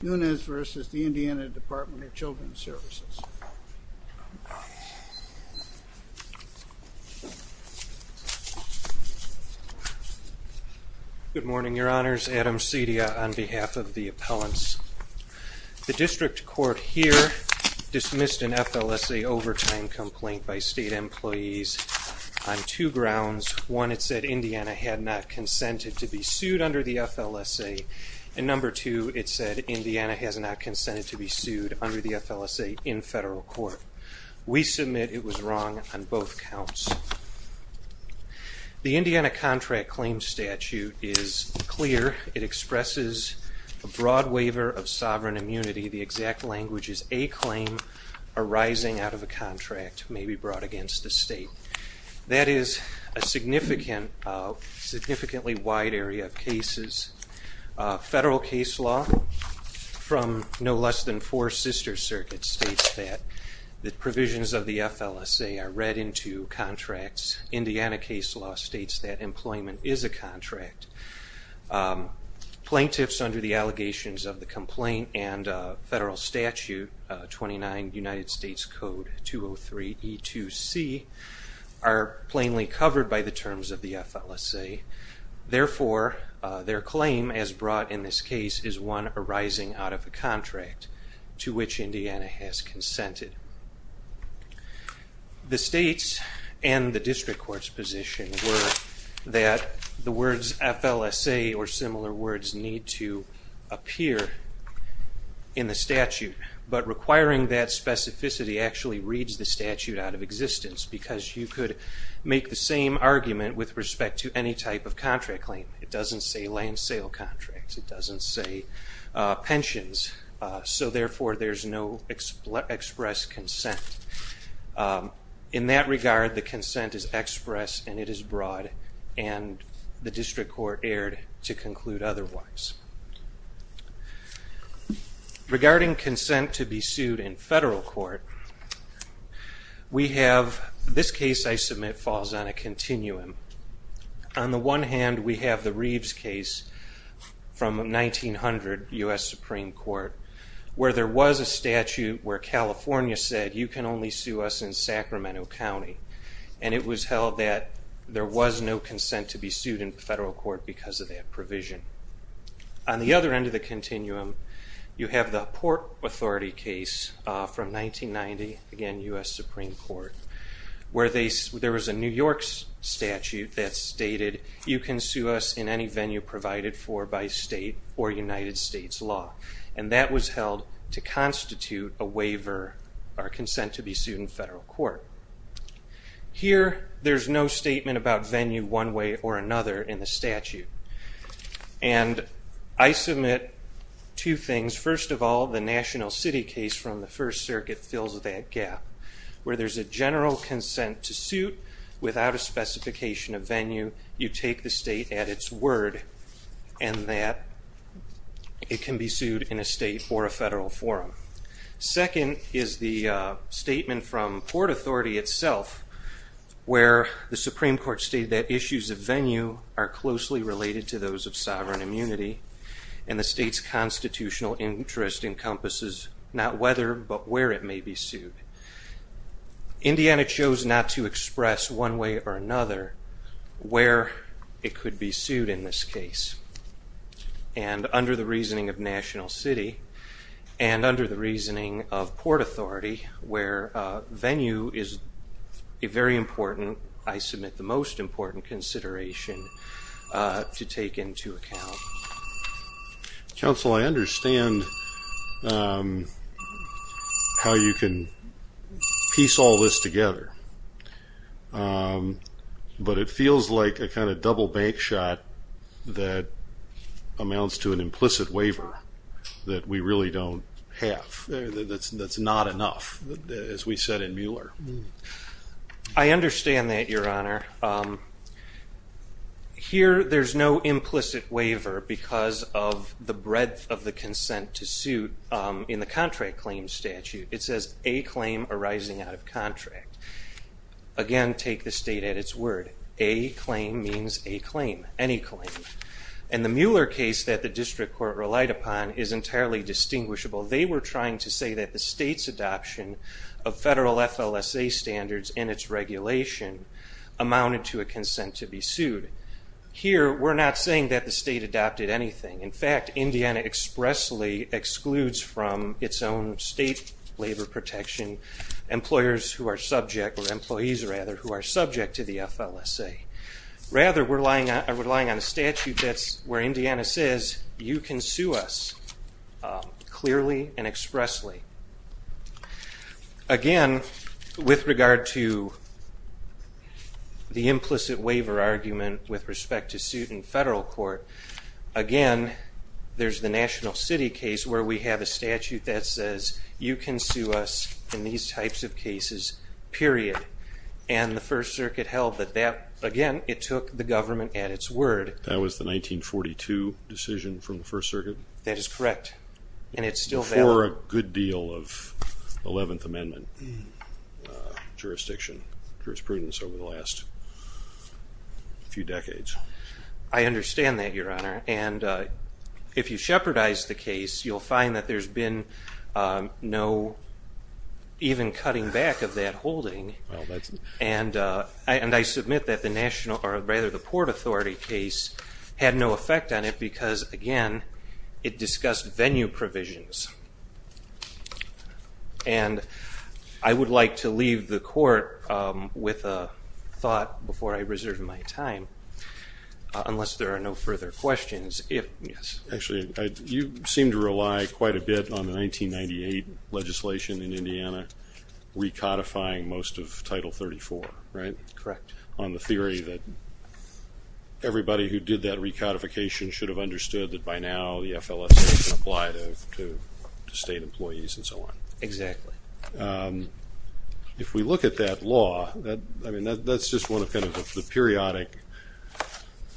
Nunez v. Indiana Department of Children's Services Good morning, your honors. Adam Cedia on behalf of the appellants. The district court here dismissed an FLSA overtime complaint by state employees on two grounds. One, it said Indiana had not consented to be sued under the FLSA in federal court. We submit it was wrong on both counts. The Indiana contract claim statute is clear. It expresses a broad waiver of sovereign immunity. The exact language is a claim arising out of a contract may be brought against the state. That is a significantly wide area of cases. Federal case law from no less than four sister circuits states that the provisions of the FLSA are read into contracts. Indiana case law states that employment is a contract. Plaintiffs under the allegations of the complaint and federal statute 29 United States Code 203 E2C are plainly covered by the terms of the FLSA. Therefore, their claim as brought in this case is one arising out of a contract to which Indiana has consented. The states and the district courts position were that the words FLSA or similar words need to appear in the statute but requiring that specificity actually reads the statute out of existence because you could make the same argument with respect to any type of contract claim. It doesn't say land sale contracts. It doesn't say pensions. So therefore, there's no express consent. In that regard, the consent is express and it is broad and the district court erred to conclude otherwise. Regarding consent to be sued in federal court, we have this case I submit falls on a continuum. On the one hand, we have the Reeves case from 1900 U.S. Supreme Court where there was a statute where California said you can only sue us in Sacramento County and it was held that there was no consent to be sued. On the other end of the continuum, you have the Port Authority case from 1990, again U.S. Supreme Court, where there was a New York statute that stated you can sue us in any venue provided for by state or United States law and that was held to constitute a waiver or consent to be sued in federal court. Here, there's no statement about venue one way or another in the statute and I submit two things. First of all, the National City case from the First Circuit fills that gap where there's a general consent to suit without a specification of venue. You take the state at its word and that it can be sued in a state or a federal forum. Second is the statement from Port Authority itself where the Supreme Court stated that issues of venue are closely related to those of sovereign immunity and the state's constitutional interest encompasses not whether but where it may be sued. Indiana chose not to express one way or another where it could be sued in this case and under the reasoning of National City and under the reasoning of Port Authority where venue is a very to take into account. Counsel, I understand how you can piece all this together but it feels like a kind of double bank shot that amounts to an implicit waiver that we really don't have. That's not enough as we said in There's no implicit waiver because of the breadth of the consent to suit in the contract claim statute. It says a claim arising out of contract. Again, take the state at its word. A claim means a claim, any claim. In the Mueller case that the district court relied upon is entirely distinguishable. They were trying to say that the state's adoption of federal FLSA standards and its regulation amounted to a consent to be sued. Here, we're not saying that the state adopted anything. In fact, Indiana expressly excludes from its own state labor protection employers who are subject or employees rather who are subject to the FLSA. Rather, we're relying on a statute that's where the implicit waiver argument with respect to suit in federal court. Again, there's the National City case where we have a statute that says you can sue us in these types of cases, period. And the First Circuit held that that, again, it took the government at its word. That was the 1942 decision from the First Circuit? That is correct and it's still valid. Before a good deal of 11th section jurisprudence over the last few decades. I understand that, Your Honor, and if you shepherd eyes the case, you'll find that there's been no even cutting back of that holding. And I submit that the National or rather the Port Authority case had no effect on it because, again, it discussed venue provisions. And I would like to leave the court with a thought before I reserve my time, unless there are no further questions. Actually, you seem to rely quite a bit on the 1998 legislation in Indiana recodifying most of Title 34, right? Correct. On the theory that everybody who did that recodification should have understood that by now the FLSA can apply to state employees and so on. Exactly. If we look at that law, I mean, that's just one of kind of the periodic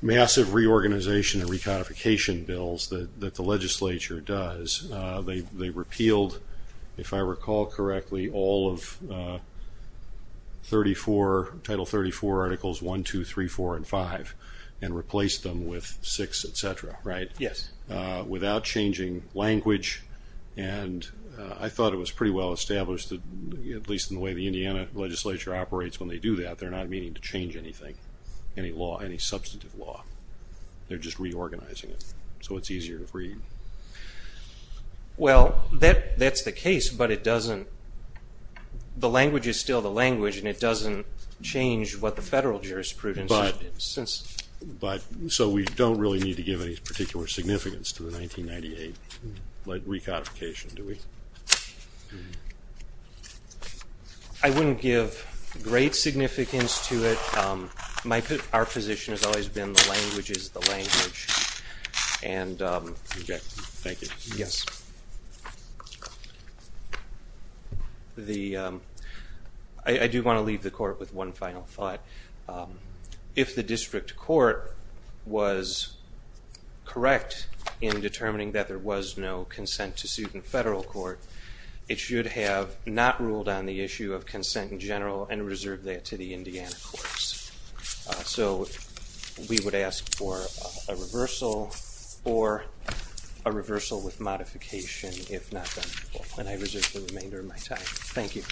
massive reorganization and recodification bills that the legislature does. They repealed, if I recall correctly, all of Title 34 Articles 1, 2, 3, 4, and 5 and replaced them with 6, etc., right? Yes. Without changing language and I thought it was pretty well established, at least in the way the Indiana legislature operates when they do that, they're not meaning to change anything, any law, any substantive law. They're just reorganizing it so it's easier to read. Well, that's the case but it doesn't, the language is still the language and it doesn't change what the federal jurisprudence is. But, so we don't really need to give any particular significance to the 1998 recodification, do we? I wouldn't give great significance to it. Our position has always been the language is the language. I do want to leave the court with one final thought. If the district court was correct in determining that there was no consent to suit in federal court, it should have not ruled on the issue of consent in general and reserved that to the Indiana courts. So, we would ask for a reversal or a reversal with modification, if not then, when I resist the remainder of my time. Thank you.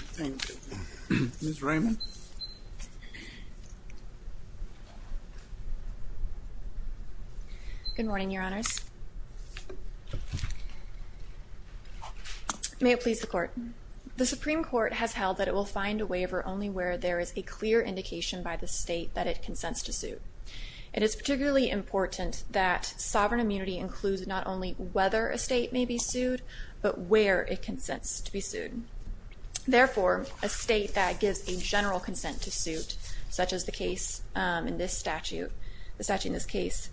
Ms. Raymond. Good morning, Your Honors. May it please the court. The Supreme Court has held that it will find a waiver only where there is a clear indication by the state that it consents to suit. It is particularly important that sovereign immunity includes not only whether a state may be sued, but where it consents to be sued. Therefore, a state that gives a general consent to suit, such as the case in this statute, the statute in this case,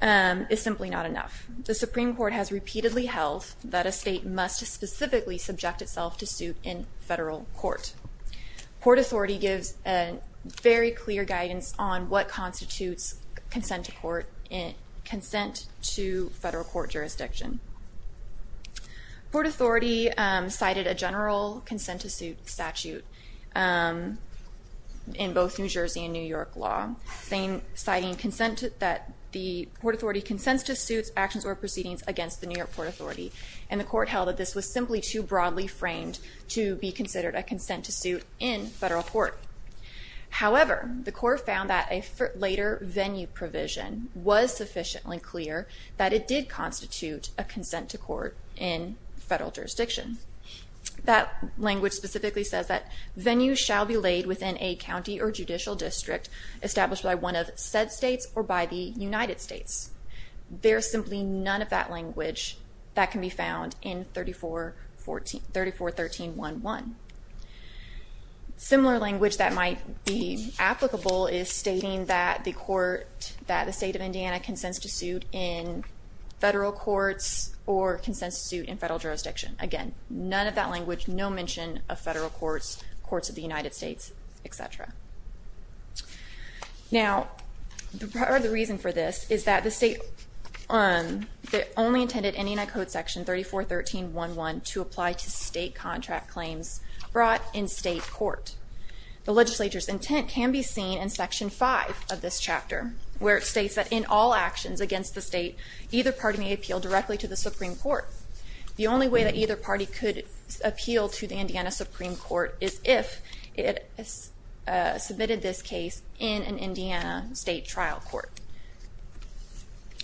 is simply not enough. The Supreme Court has repeatedly held that a state must specifically subject itself to suit in federal court. Port Authority gives a very clear guidance on what constitutes consent to court, consent to federal court jurisdiction. Port Authority cited a general consent to suit statute in both New Jersey and New York law, citing consent that the Port Authority consents to suits, actions, or proceedings against the New York Port Authority, and the court held that this was simply too considered a consent to suit in federal court. However, the court found that a later venue provision was sufficiently clear that it did constitute a consent to court in federal jurisdiction. That language specifically says that venues shall be laid within a county or judicial district established by one of said states or by the United States. There is simply none of that language that can be found in 3413.1.1. Similar language that might be applicable is stating that the state of Indiana consents to suit in federal courts or consents to suit in federal jurisdiction. Again, none of that language, no mention of federal courts, courts of the United States, etc. Now, the reason for this is that the state only intended in Indiana Code section 3413.1.1 to apply to state contract claims brought in state court. The legislature's intent can be seen in section 5 of this chapter, where it states that in all actions against the state, either party may appeal directly to the Supreme Court. The only way that either party could appeal to the Indiana Supreme Court is if it submitted this case in an Indiana state trial court.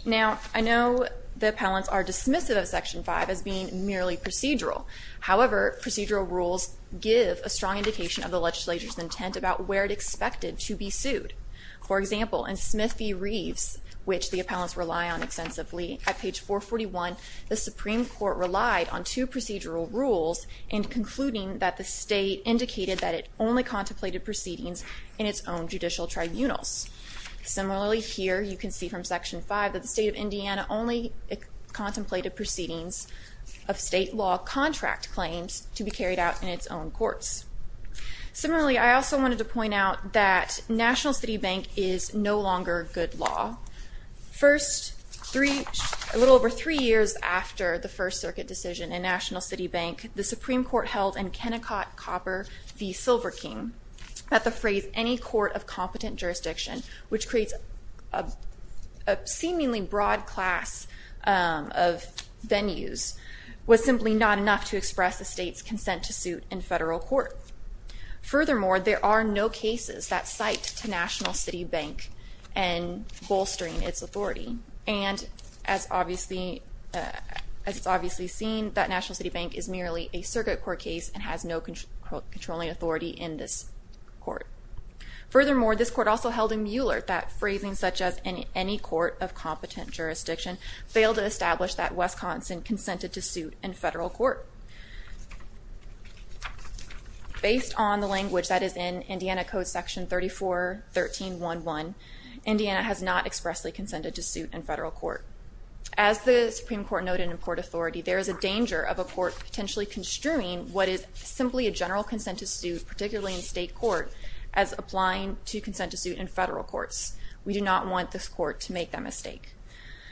Now, I know the appellants are dismissive of section 5 as being merely procedural. However, procedural rules give a strong indication of the legislature's intent about where it expected to be sued. For example, in Smith v. Reeves, which the appellants rely on extensively, at page 441, the Supreme Court relied on two the state indicated that it only contemplated proceedings in its own judicial tribunals. Similarly, here you can see from section 5 that the state of Indiana only contemplated proceedings of state law contract claims to be carried out in its own courts. Similarly, I also wanted to point out that National City Bank is no longer good law. A little over three years after the First Circuit decision in National City Bank, the Supreme Court held in Pinnacott-Copper v. Silver King that the phrase, any court of competent jurisdiction, which creates a seemingly broad class of venues, was simply not enough to express the state's consent to suit in federal court. Furthermore, there are no cases that cite to National City Bank in bolstering its authority, and as obviously, as it's obviously seen, that National City Bank is merely a circuit court case and has no controlling authority in this court. Furthermore, this court also held in Mueller that phrasing such as, any court of competent jurisdiction, failed to establish that Wisconsin consented to suit in federal court. Based on the language that is in Indiana Code section 341311, Indiana has not expressly consented to suit in federal court. As the Supreme Court noted in Port Authority, there is a danger of a court potentially construing what is simply a general consent to suit, particularly in state court, as applying to consent to suit in federal courts. We do not want this court to make that mistake.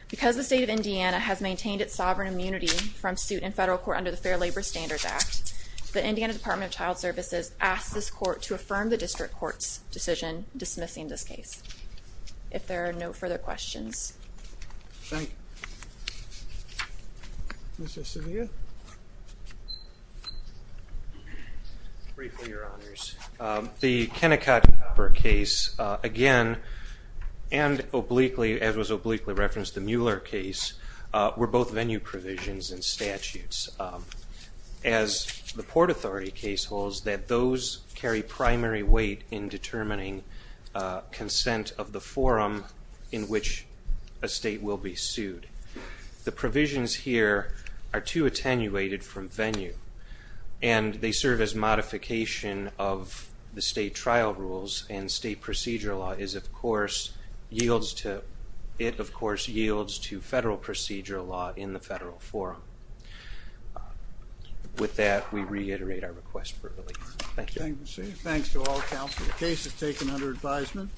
Because the state of Indiana has maintained its sovereign immunity from suit in federal court under the Fair Labor Standards Act, the Indiana Department of Child Services asked this court to affirm the district court's decision dismissing this case. If there are no further questions. Thank you. Mr. Sevilla? Briefly, Your Honors. The Kennecott-Hopper case, again, and obliquely, as was obliquely referenced, the Mueller case, were both venue provisions and statutes. As the Port Authority case holds, that those carry primary weight in determining consent of the forum in which a state will be sued. The provisions here are too attenuated from venue and they serve as modification of the state trial rules and state procedure law is, of course, yields to, it of course, yields to federal procedure law in the federal forum. With that, we reiterate our request for release. Thank you. Thanks to all counsel. The case is taken under advisement.